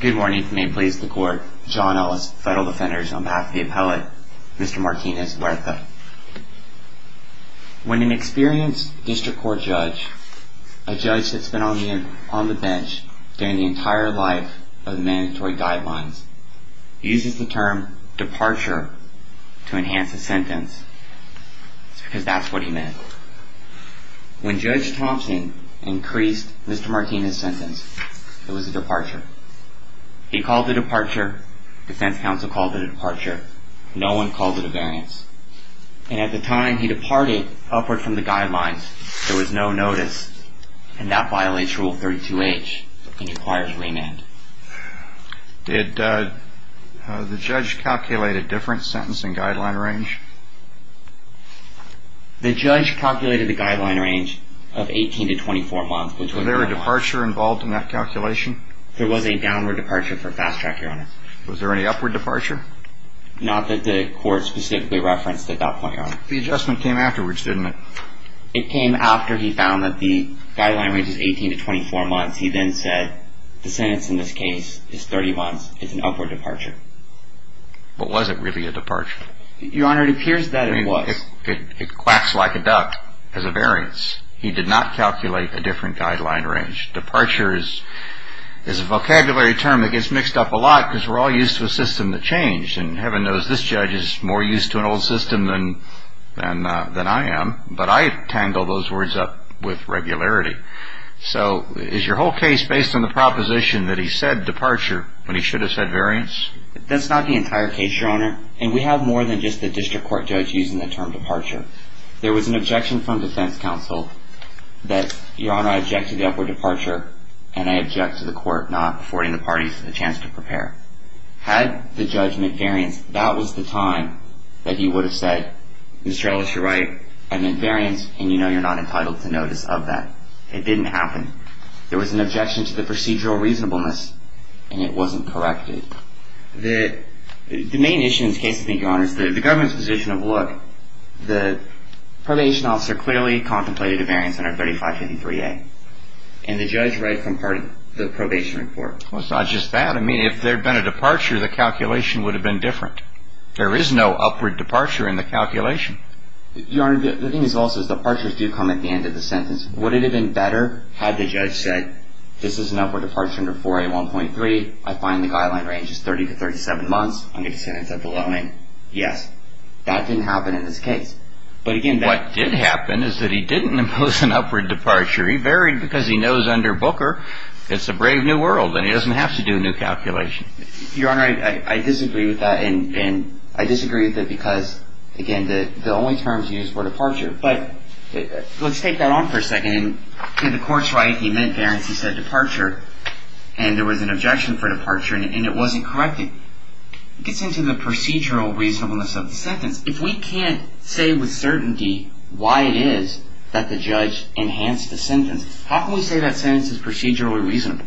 Good morning. May it please the court. John Ellis, Federal Defenders, on behalf of the appellate, Mr. Martinez-Huerta. When an experienced district court judge, a judge that's been on the bench during the entire life of mandatory guidelines, uses the term departure to enhance a sentence, it's because that's what he meant. When Judge Thompson increased Mr. Martinez's sentence, it was a departure. He called it a departure, defense counsel called it a departure, no one called it a variance. And at the time he departed upward from the guidelines, there was no notice, and that violates Rule 32H and requires remand. Did the judge calculate a different sentence and guideline range? The judge calculated a guideline range of 18 to 24 months. Was there a departure involved in that calculation? There was a downward departure for fast track, Your Honor. Was there any upward departure? Not that the court specifically referenced at that point, Your Honor. The adjustment came afterwards, didn't it? It came after he found that the guideline range is 18 to 24 months. He then said, the sentence in this case is 30 months, it's an upward departure. But was it really a departure? Your Honor, it appears that it was. It clacks like a duck as a variance. He did not calculate a different guideline range. Departure is a vocabulary term that gets mixed up a lot because we're all used to a system that changed, and heaven knows this judge is more used to an old system than I am, but I tangle those words up with regularity. So is your whole case based on the proposition that he said departure when he should have said variance? That's not the entire case, Your Honor, and we have more than just the district court judge using the term departure. There was an objection from defense counsel that, Your Honor, I object to the upward departure, and I object to the court not affording the parties a chance to prepare. Had the judge meant variance, that was the time that he would have said, Mr. Ellis, you're right, I meant variance, and you know you're not entitled to notice of that. It didn't happen. There was an objection to the procedural reasonableness, and it wasn't corrected. The main issue in this case, I think, Your Honor, is the government's position of, look, the probation officer clearly contemplated a variance under 3553A, and the judge rightfully pardoned the probation report. Well, it's not just that. I mean, if there had been a departure, the calculation would have been different. There is no upward departure in the calculation. Your Honor, the thing is also is departures do come at the end of the sentence. Would it have been better had the judge said, this is an upward departure under 4A1.3. I find the guideline range is 30 to 37 months under the sentence of the loaning. Yes. That didn't happen in this case. But, again, that didn't happen. What did happen is that he didn't impose an upward departure. He varied because he knows under Booker, it's a brave new world, and he doesn't have to do a new calculation. Your Honor, I disagree with that, and I disagree with it because, again, the only terms used were departure. But let's take that on for a second. In the court's right, he meant variance. He said departure, and there was an objection for departure, and it wasn't corrected. It gets into the procedural reasonableness of the sentence. If we can't say with certainty why it is that the judge enhanced the sentence, how can we say that sentence is procedurally reasonable?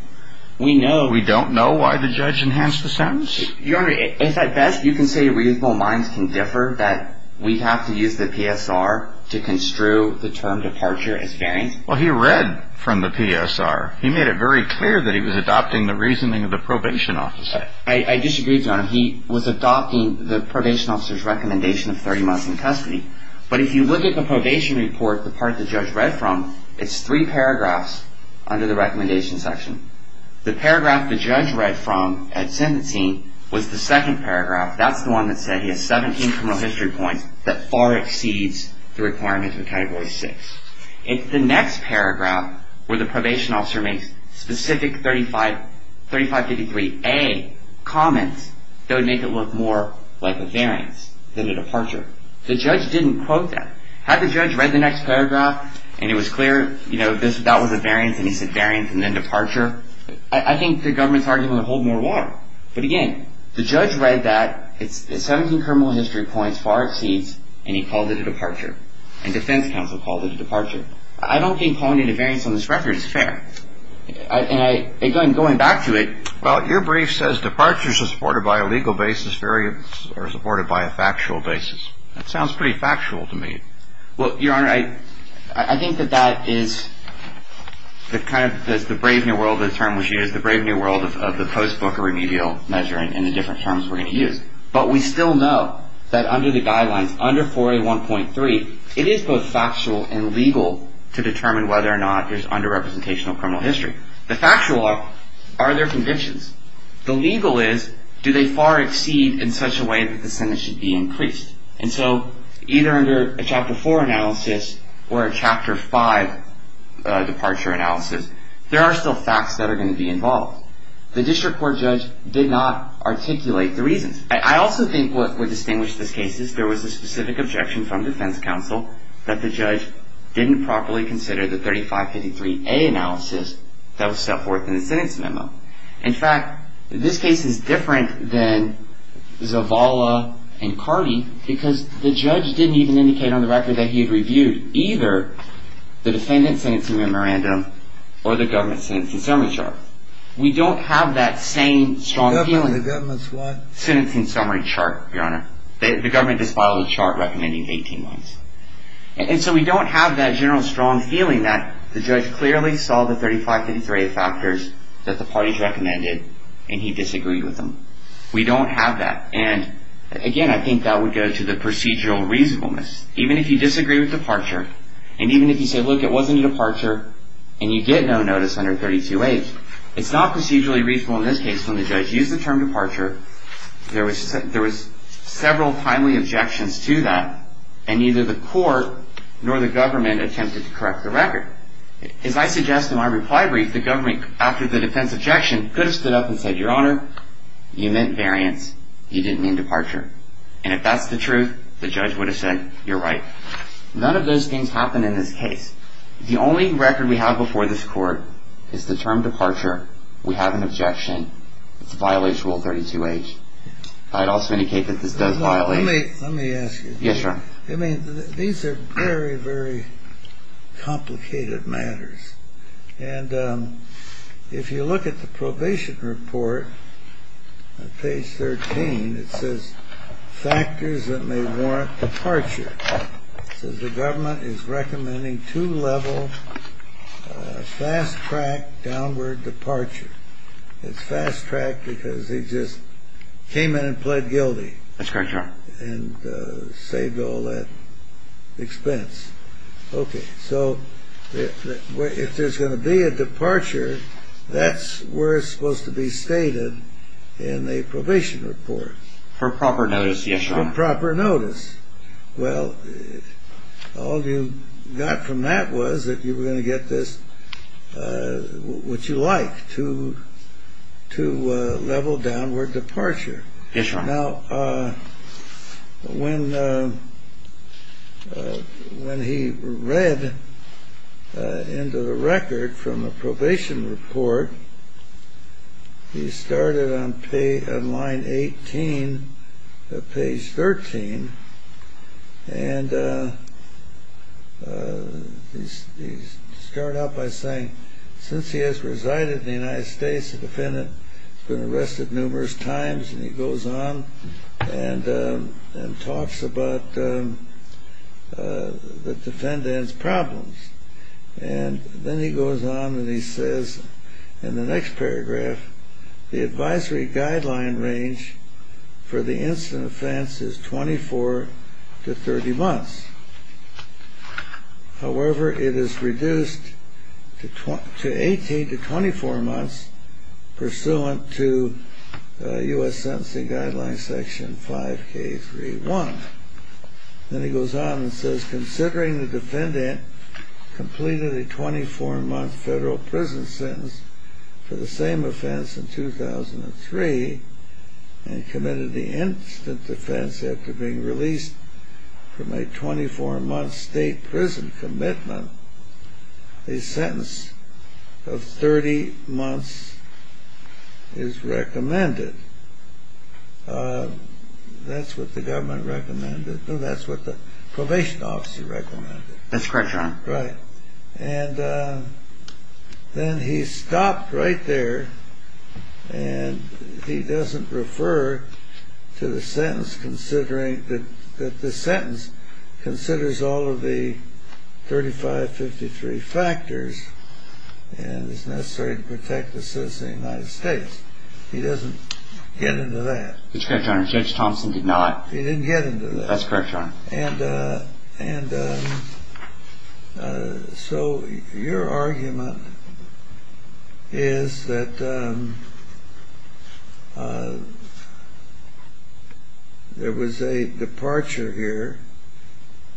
We know. We don't know why the judge enhanced the sentence? Your Honor, if at best you can say reasonable minds can differ, that we have to use the PSR to construe the term departure as variance? Well, he read from the PSR. He made it very clear that he was adopting the reasoning of the probation officer. I disagree, Your Honor. He was adopting the probation officer's recommendation of 30 months in custody. But if you look at the probation report, the part the judge read from, it's three paragraphs under the recommendation section. The paragraph the judge read from at sentencing was the second paragraph. That's the one that said he has 17 criminal history points that far exceeds the requirements of Category 6. If the next paragraph where the probation officer makes specific 3553A comments, that would make it look more like a variance than a departure. The judge didn't quote that. Had the judge read the next paragraph and it was clear, you know, that was a variance and he said variance and then departure, I think the government's argument would hold more water. But again, the judge read that, the 17 criminal history points far exceeds, and he called it a departure. And defense counsel called it a departure. I don't think calling it a variance on this record is fair. And again, going back to it. Well, your brief says departures are supported by a legal basis. Variants are supported by a factual basis. That sounds pretty factual to me. Well, your Honor, I think that that is the kind of the brave new world of the term we should use, the brave new world of the post-Booker remedial measure and the different terms we're going to use. But we still know that under the guidelines, under 4A1.3, it is both factual and legal to determine whether or not there's underrepresentational criminal history. The factual are, are there convictions? The legal is, do they far exceed in such a way that the sentence should be increased? And so either under a Chapter 4 analysis or a Chapter 5 departure analysis, there are still facts that are going to be involved. The district court judge did not articulate the reasons. I also think what would distinguish this case is there was a specific objection from defense counsel that the judge didn't properly consider the 3553A analysis that was set forth in the sentence memo. In fact, this case is different than Zavala and Cardi because the judge didn't even indicate on the record that he had reviewed either the defendant's sentencing memorandum or the government's sentencing summary chart. We don't have that same strong feeling. The government's what? Sentencing summary chart, your Honor. The government just filed a chart recommending 18 months. And so we don't have that general strong feeling that the judge clearly saw the 3553A factors that the parties recommended and he disagreed with them. We don't have that. And again, I think that would go to the procedural reasonableness. Even if you disagree with departure and even if you say, look, it wasn't a departure and you get no notice under 32A, it's not procedurally reasonable in this case when the judge used the term departure. There was several timely objections to that and neither the court nor the government attempted to correct the record. As I suggest in my reply brief, the government, after the defense objection, could have stood up and said, your Honor, you meant variance. You didn't mean departure. And if that's the truth, the judge would have said, you're right. None of those things happen in this case. The only record we have before this court is the term departure. We have an objection. It's a violation of Rule 32H. I'd also indicate that this does violate. Let me ask you. Yes, Your Honor. I mean, these are very, very complicated matters. And if you look at the probation report, page 13, it says factors that may warrant departure. It says the government is recommending two-level fast-track downward departure. It's fast-track because he just came in and pled guilty. That's correct, Your Honor. And saved all that expense. Okay. So if there's going to be a departure, that's where it's supposed to be stated in a probation report. For proper notice, yes, Your Honor. For proper notice. Well, all you got from that was that you were going to get this, what you like, two-level downward departure. Yes, Your Honor. Now, when he read into the record from a probation report, he started on line 18 of page 13, and he started out by saying since he has resided in the United States, the defendant has been arrested numerous times, and he goes on and talks about the defendant's problems. And then he goes on and he says in the next paragraph, the advisory guideline range for the incident offense is 24 to 30 months. However, it is reduced to 18 to 24 months pursuant to U.S. Sentencing Guidelines Section 5K31. Then he goes on and says considering the defendant completed a 24-month federal prison sentence for the same offense in 2003 and committed the incident offense after being released from a 24-month state prison commitment, a sentence of 30 months is recommended. That's what the government recommended. No, that's what the probation office recommended. That's correct, Your Honor. Right. And then he stopped right there, and he doesn't refer to the sentence considering that the sentence considers all of the 3553 factors and is necessary to protect the citizens of the United States. He doesn't get into that. That's correct, Your Honor. Judge Thompson did not. He didn't get into that. That's correct, Your Honor. And so your argument is that there was a departure here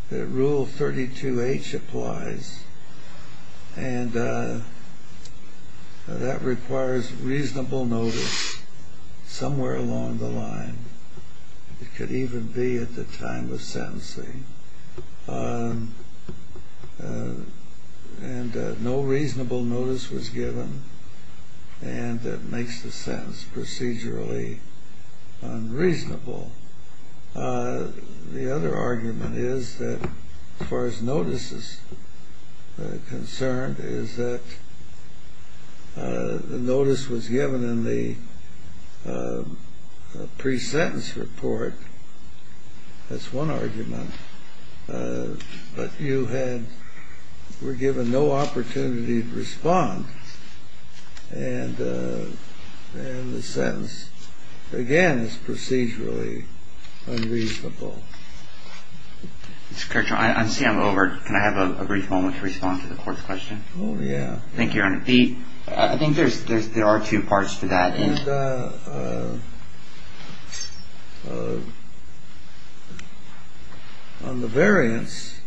that Rule 32H applies, and that requires reasonable notice somewhere along the line. It could even be at the time of sentencing. And no reasonable notice was given, and that makes the sentence procedurally unreasonable. The other argument is that, as far as notice is concerned, is that the notice was given in the pre-sentence report. That's one argument. But you were given no opportunity to respond, and the sentence, again, is procedurally unreasonable. Mr. Kirchhoff, I see I'm over. Can I have a brief moment to respond to the court's question? Oh, yeah. Thank you, Your Honor. I think there are two parts to that. And on the variance,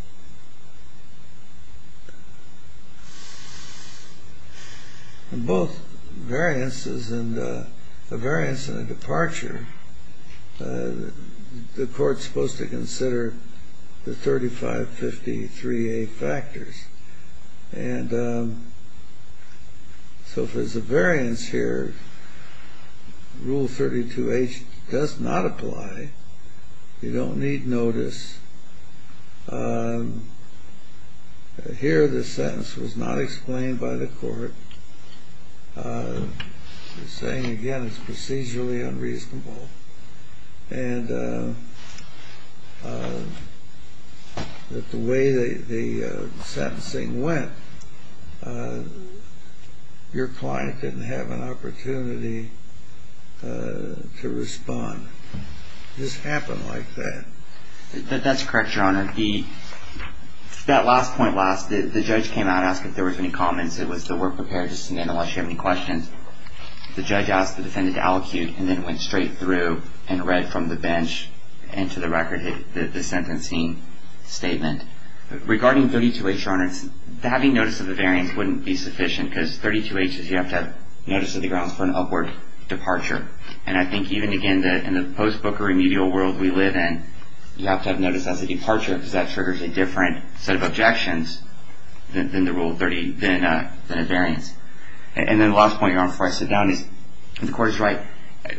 both variances and the variance in the departure, the court's supposed to consider the 3553A factors. And so if there's a variance here, Rule 32H does not apply. You don't need notice. Here the sentence was not explained by the court. The saying, again, is procedurally unreasonable. And that the way the sentencing went, your client didn't have an opportunity to respond. It just happened like that. That's correct, Your Honor. That last point, the judge came out and asked if there was any comments. It was that we're prepared to send in unless you have any questions. The judge asked the defendant to allocute, and then it went straight through and read from the bench and to the record the sentencing statement. Regarding 32H, Your Honor, having notice of the variance wouldn't be sufficient because 32H is you have to have notice of the grounds for an upward departure. And I think even, again, in the post-Booker remedial world we live in, you have to have notice as a departure because that triggers a different set of objections than a variance. And then the last point, Your Honor, before I sit down is the court is right.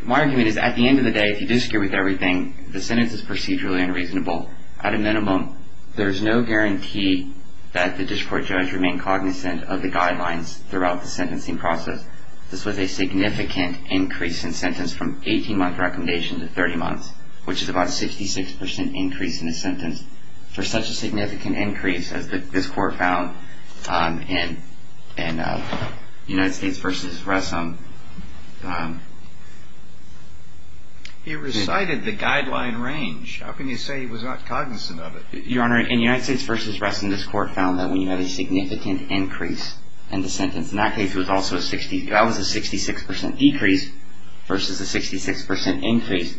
My argument is at the end of the day, if you do secure with everything, the sentence is procedurally unreasonable. At a minimum, there's no guarantee that the district court judge remained cognizant of the guidelines throughout the sentencing process. This was a significant increase in sentence from 18-month recommendation to 30 months, which is about a 66% increase in a sentence. And for such a significant increase, as this court found in United States v. Ressin. He recited the guideline range. How can you say he was not cognizant of it? Your Honor, in United States v. Ressin, this court found that when you have a significant increase in the sentence, and that case was also a 66% decrease versus a 66% increase,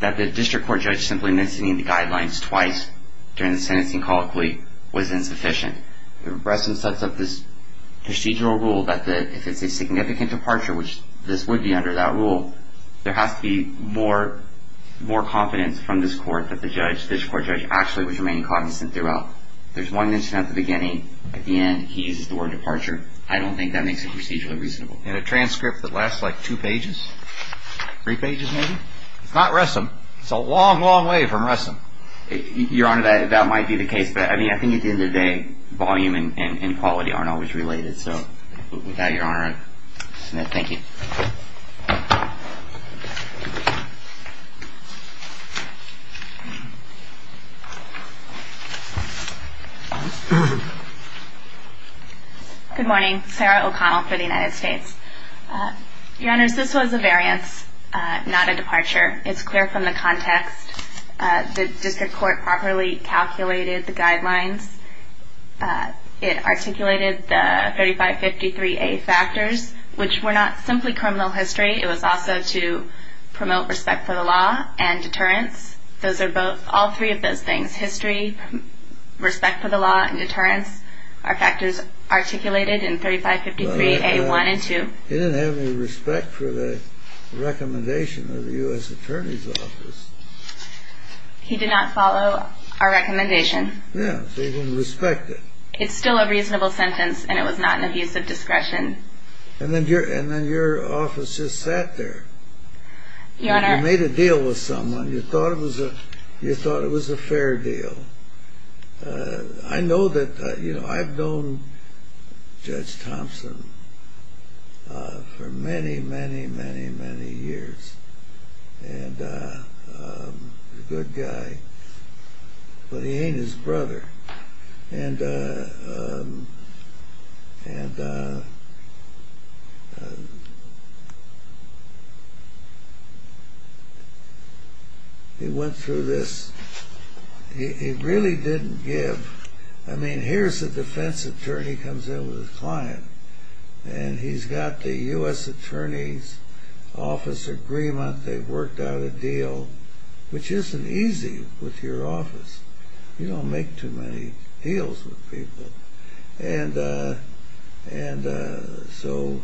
that the district court judge simply missing the guidelines twice during the sentencing colloquy was insufficient. Ressin sets up this procedural rule that if it's a significant departure, which this would be under that rule, there has to be more confidence from this court that the judge, district court judge, actually was remaining cognizant throughout. There's one mention at the beginning. At the end, he uses the word departure. I don't think that makes it procedurally reasonable. And a transcript that lasts like two pages, three pages maybe? It's not Ressin. It's a long, long way from Ressin. Your Honor, that might be the case. But, I mean, I think at the end of the day, volume and quality aren't always related. So with that, Your Honor, thank you. Good morning. Sarah O'Connell for the United States. Your Honors, this was a variance, not a departure. It's clear from the context. The district court properly calculated the guidelines. It articulated the 3553A factors, which were not simply criminal history. It was also to promote respect for the law and deterrence. All three of those things, history, respect for the law, and deterrence, are factors articulated in 3553A1 and 2. He didn't have any respect for the recommendation of the U.S. Attorney's Office. He did not follow our recommendation. Yeah, so he didn't respect it. It's still a reasonable sentence, and it was not an abuse of discretion. And then your office just sat there. You made a deal with someone. You thought it was a fair deal. I know that, you know, I've known Judge Thompson for many, many, many, many years. And he's a good guy, but he ain't his brother. And he went through this. He really didn't give. I mean, here's a defense attorney comes in with a client, and he's got the U.S. Attorney's Office agreement. They've worked out a deal, which isn't easy with your office. You don't make too many deals with people. And so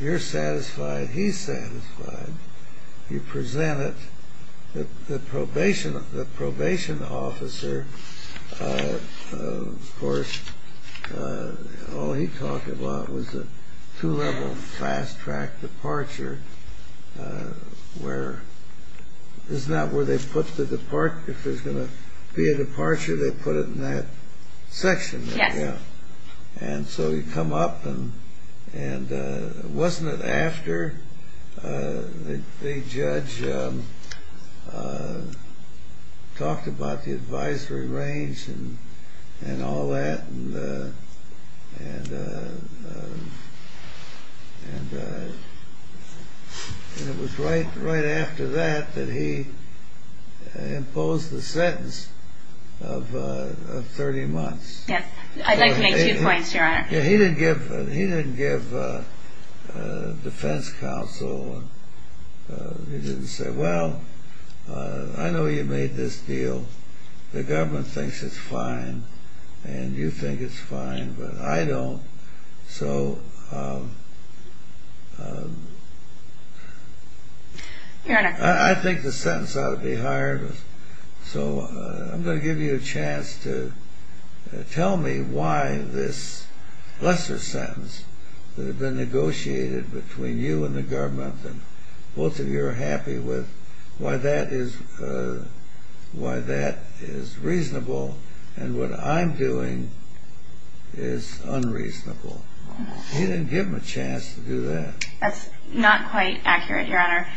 you're satisfied, he's satisfied. You present it. The probation officer, of course, all he talked about was a two-level fast-track departure. Isn't that where they put the departure? If there's going to be a departure, they put it in that section. Yes. And so you come up, and wasn't it after the judge talked about the advisory range and all that? And it was right after that that he imposed the sentence of 30 months. Yes. I'd like to make two points, Your Honor. He didn't give defense counsel. He didn't say, well, I know you made this deal. The government thinks it's fine, and you think it's fine, but I don't. So I think the sentence ought to be higher. So I'm going to give you a chance to tell me why this lesser sentence that had been negotiated between you and the government, and both of you are happy with, why that is reasonable, and what I'm doing is unreasonable. He didn't give him a chance to do that. That's not quite accurate, Your Honor.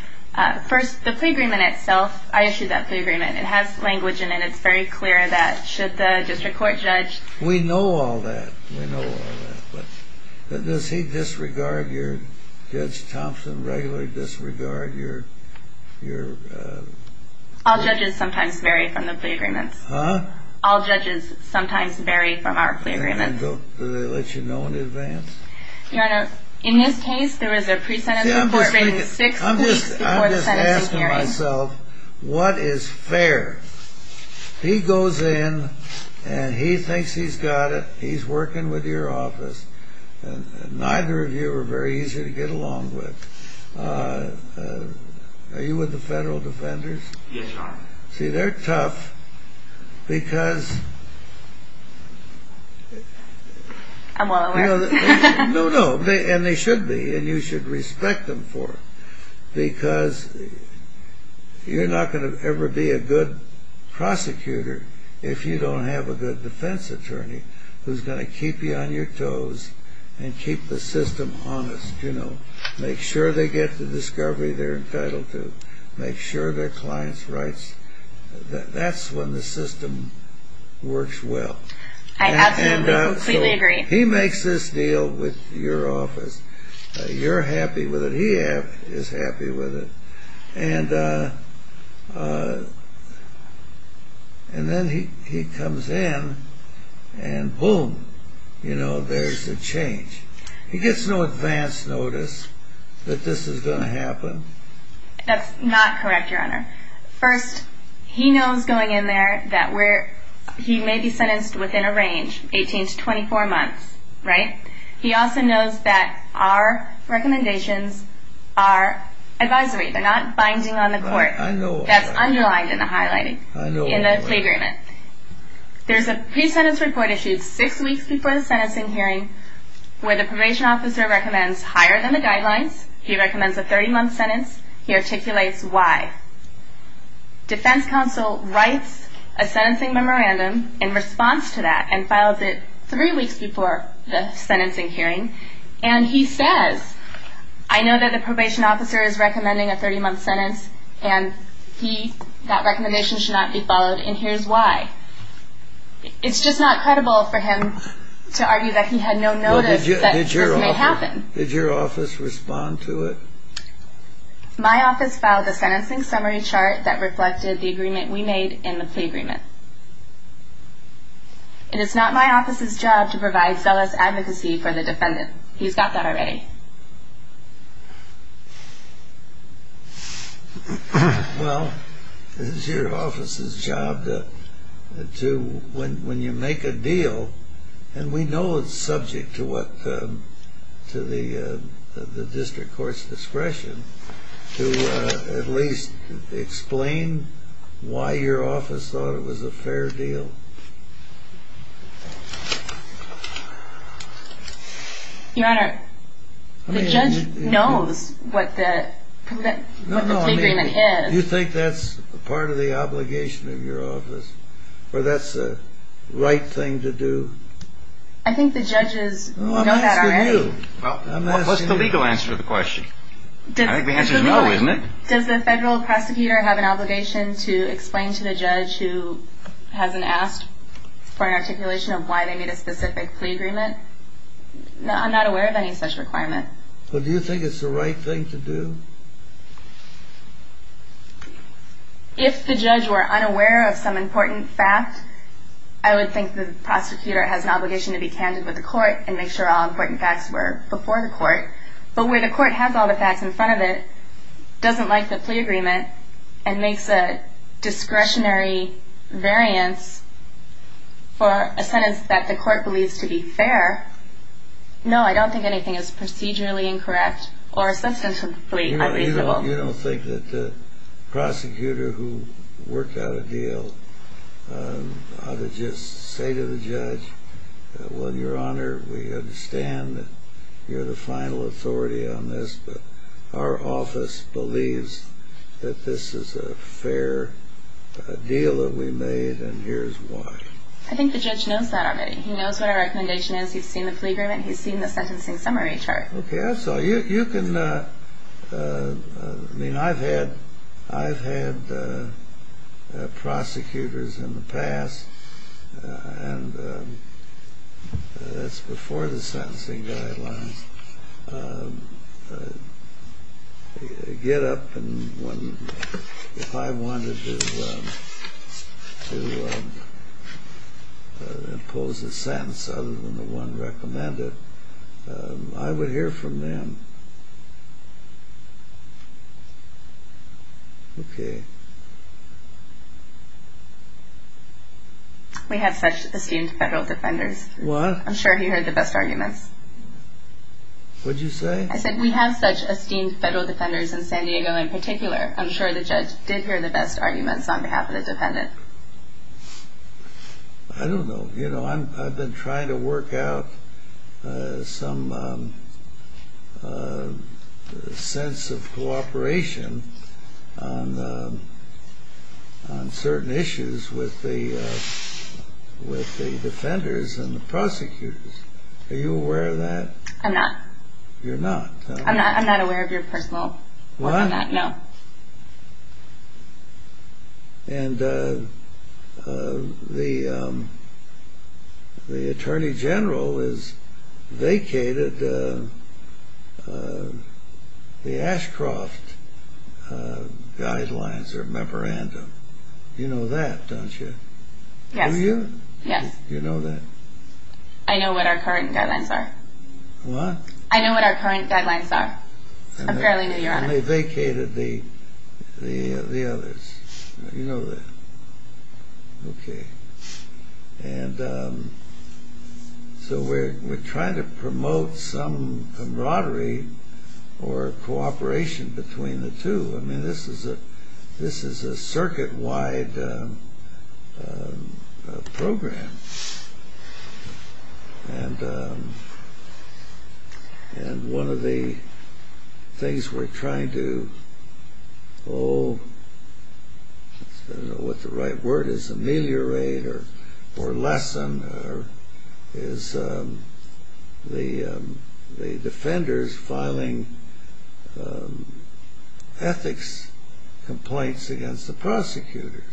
First, the plea agreement itself, I issued that plea agreement. It has language in it. It's very clear that should the district court judge. We know all that. We know all that. But does he disregard your, Judge Thompson, regularly disregard your... All judges sometimes vary from the plea agreements. Huh? All judges sometimes vary from our plea agreements. Do they let you know in advance? Your Honor, in this case, there was a pre-sentence report... I'm just asking myself, what is fair? He goes in, and he thinks he's got it. He's working with your office, and neither of you are very easy to get along with. Are you with the federal defenders? Yes, Your Honor. See, they're tough because... I'm well aware. No, no, and they should be, and you should respect them for it. Because you're not going to ever be a good prosecutor if you don't have a good defense attorney who's going to keep you on your toes and keep the system honest. Make sure they get the discovery they're entitled to. Make sure their client's rights... That's when the system works well. I absolutely, completely agree. He makes this deal with your office. You're happy with it. He is happy with it. And then he comes in, and boom, you know, there's a change. He gets no advance notice that this is going to happen? That's not correct, Your Honor. First, he knows going in there that we're... He also knows that our recommendations are advisory. They're not binding on the court. That's underlined in the highlighting in the plea agreement. There's a pre-sentence report issued six weeks before the sentencing hearing where the probation officer recommends higher than the guidelines. He recommends a 30-month sentence. He articulates why. Defense counsel writes a sentencing memorandum in response to that and files it three weeks before the sentencing hearing, and he says, I know that the probation officer is recommending a 30-month sentence, and that recommendation should not be followed, and here's why. It's just not credible for him to argue that he had no notice that this may happen. Did your office respond to it? My office filed a sentencing summary chart that reflected the agreement we made in the plea agreement. It is not my office's job to provide zealous advocacy for the defendant. He's got that already. Well, it's your office's job to, when you make a deal, and we know it's subject to the district court's discretion, to at least explain why your office thought it was a fair deal. Your Honor, the judge knows what the plea agreement is. Do you think that's part of the obligation of your office, or that's the right thing to do? I think the judges know that already. I'm asking you. What's the legal answer to the question? I think the answer is no, isn't it? Does the federal prosecutor have an obligation to explain to the judge who hasn't asked for an articulation of why they made a specific plea agreement? I'm not aware of any such requirement. Well, do you think it's the right thing to do? If the judge were unaware of some important fact, I would think the prosecutor has an obligation to be candid with the court and make sure all important facts were before the court, but where the court has all the facts in front of it, doesn't like the plea agreement, and makes a discretionary variance for a sentence that the court believes to be fair, no, I don't think anything is procedurally incorrect or substantively unfeasible. You don't think that the prosecutor who worked out a deal ought to just say to the judge, well, your honor, we understand that you're the final authority on this, but our office believes that this is a fair deal that we made, and here's why. I think the judge knows that already. He knows what our recommendation is. He's seen the plea agreement. He's seen the sentencing summary chart. Okay, I saw. You can, I mean, I've had prosecutors in the past, and that's before the sentencing guidelines, get up, and if I wanted to impose a sentence other than the one recommended, I would hear from them. Okay. We have such esteemed federal defenders. What? I'm sure he heard the best arguments. What did you say? I said we have such esteemed federal defenders in San Diego in particular. I'm sure the judge did hear the best arguments on behalf of the defendant. I don't know. You know, I've been trying to work out some sense of cooperation on certain issues with the defenders and the prosecutors. Are you aware of that? I'm not. You're not? I'm not aware of your personal work on that, no. What? And the attorney general has vacated the Ashcroft guidelines or memorandum. You know that, don't you? Yes. Do you? Yes. You know that? I know what our current guidelines are. What? I know what our current guidelines are. Apparently, no, Your Honor. And they vacated the others. You know that. Okay. And so we're trying to promote some camaraderie or cooperation between the two. I mean, this is a circuit-wide program. And one of the things we're trying to, oh, I don't know what the right word is, ameliorate or lessen is the defenders filing ethics complaints against the prosecutors.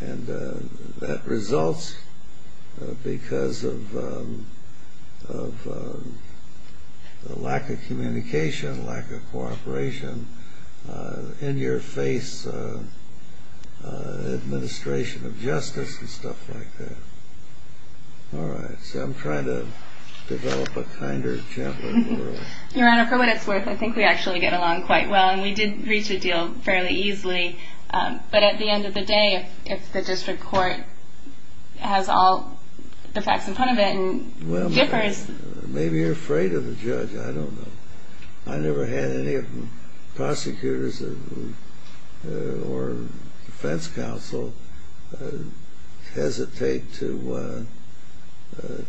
And that results because of the lack of communication, lack of cooperation, in-your-face administration of justice and stuff like that. All right. So I'm trying to develop a kinder, gentler world. Your Honor, for what it's worth, I think we actually get along quite well, and we did reach a deal fairly easily. But at the end of the day, if the district court has all the facts in front of it and differs. Well, maybe you're afraid of the judge. I don't know. I never had any prosecutors or defense counsel hesitate to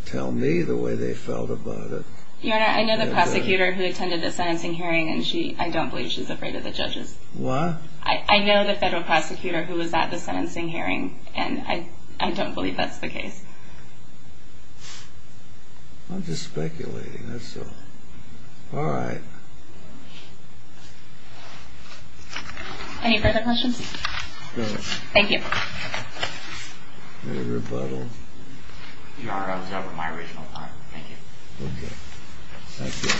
tell me the way they felt about it. Your Honor, I know the prosecutor who attended the sentencing hearing, and I don't believe she's afraid of the judges. What? I know the federal prosecutor who was at the sentencing hearing, and I don't believe that's the case. I'm just speculating, that's all. All right. Any further questions? No. Thank you. Any rebuttal? Thank you. Okay. Thank you.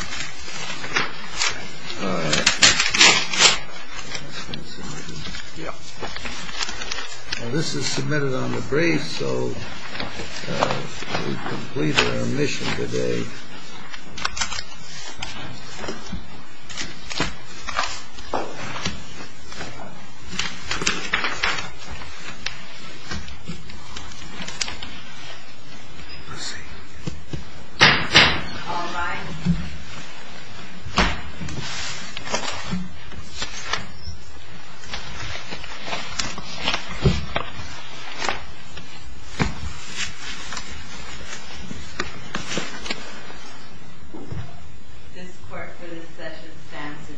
All right. This is submitted on the brief, so we've completed our mission today. Thank you. We'll see. All rise. This court for this session stands adjourned.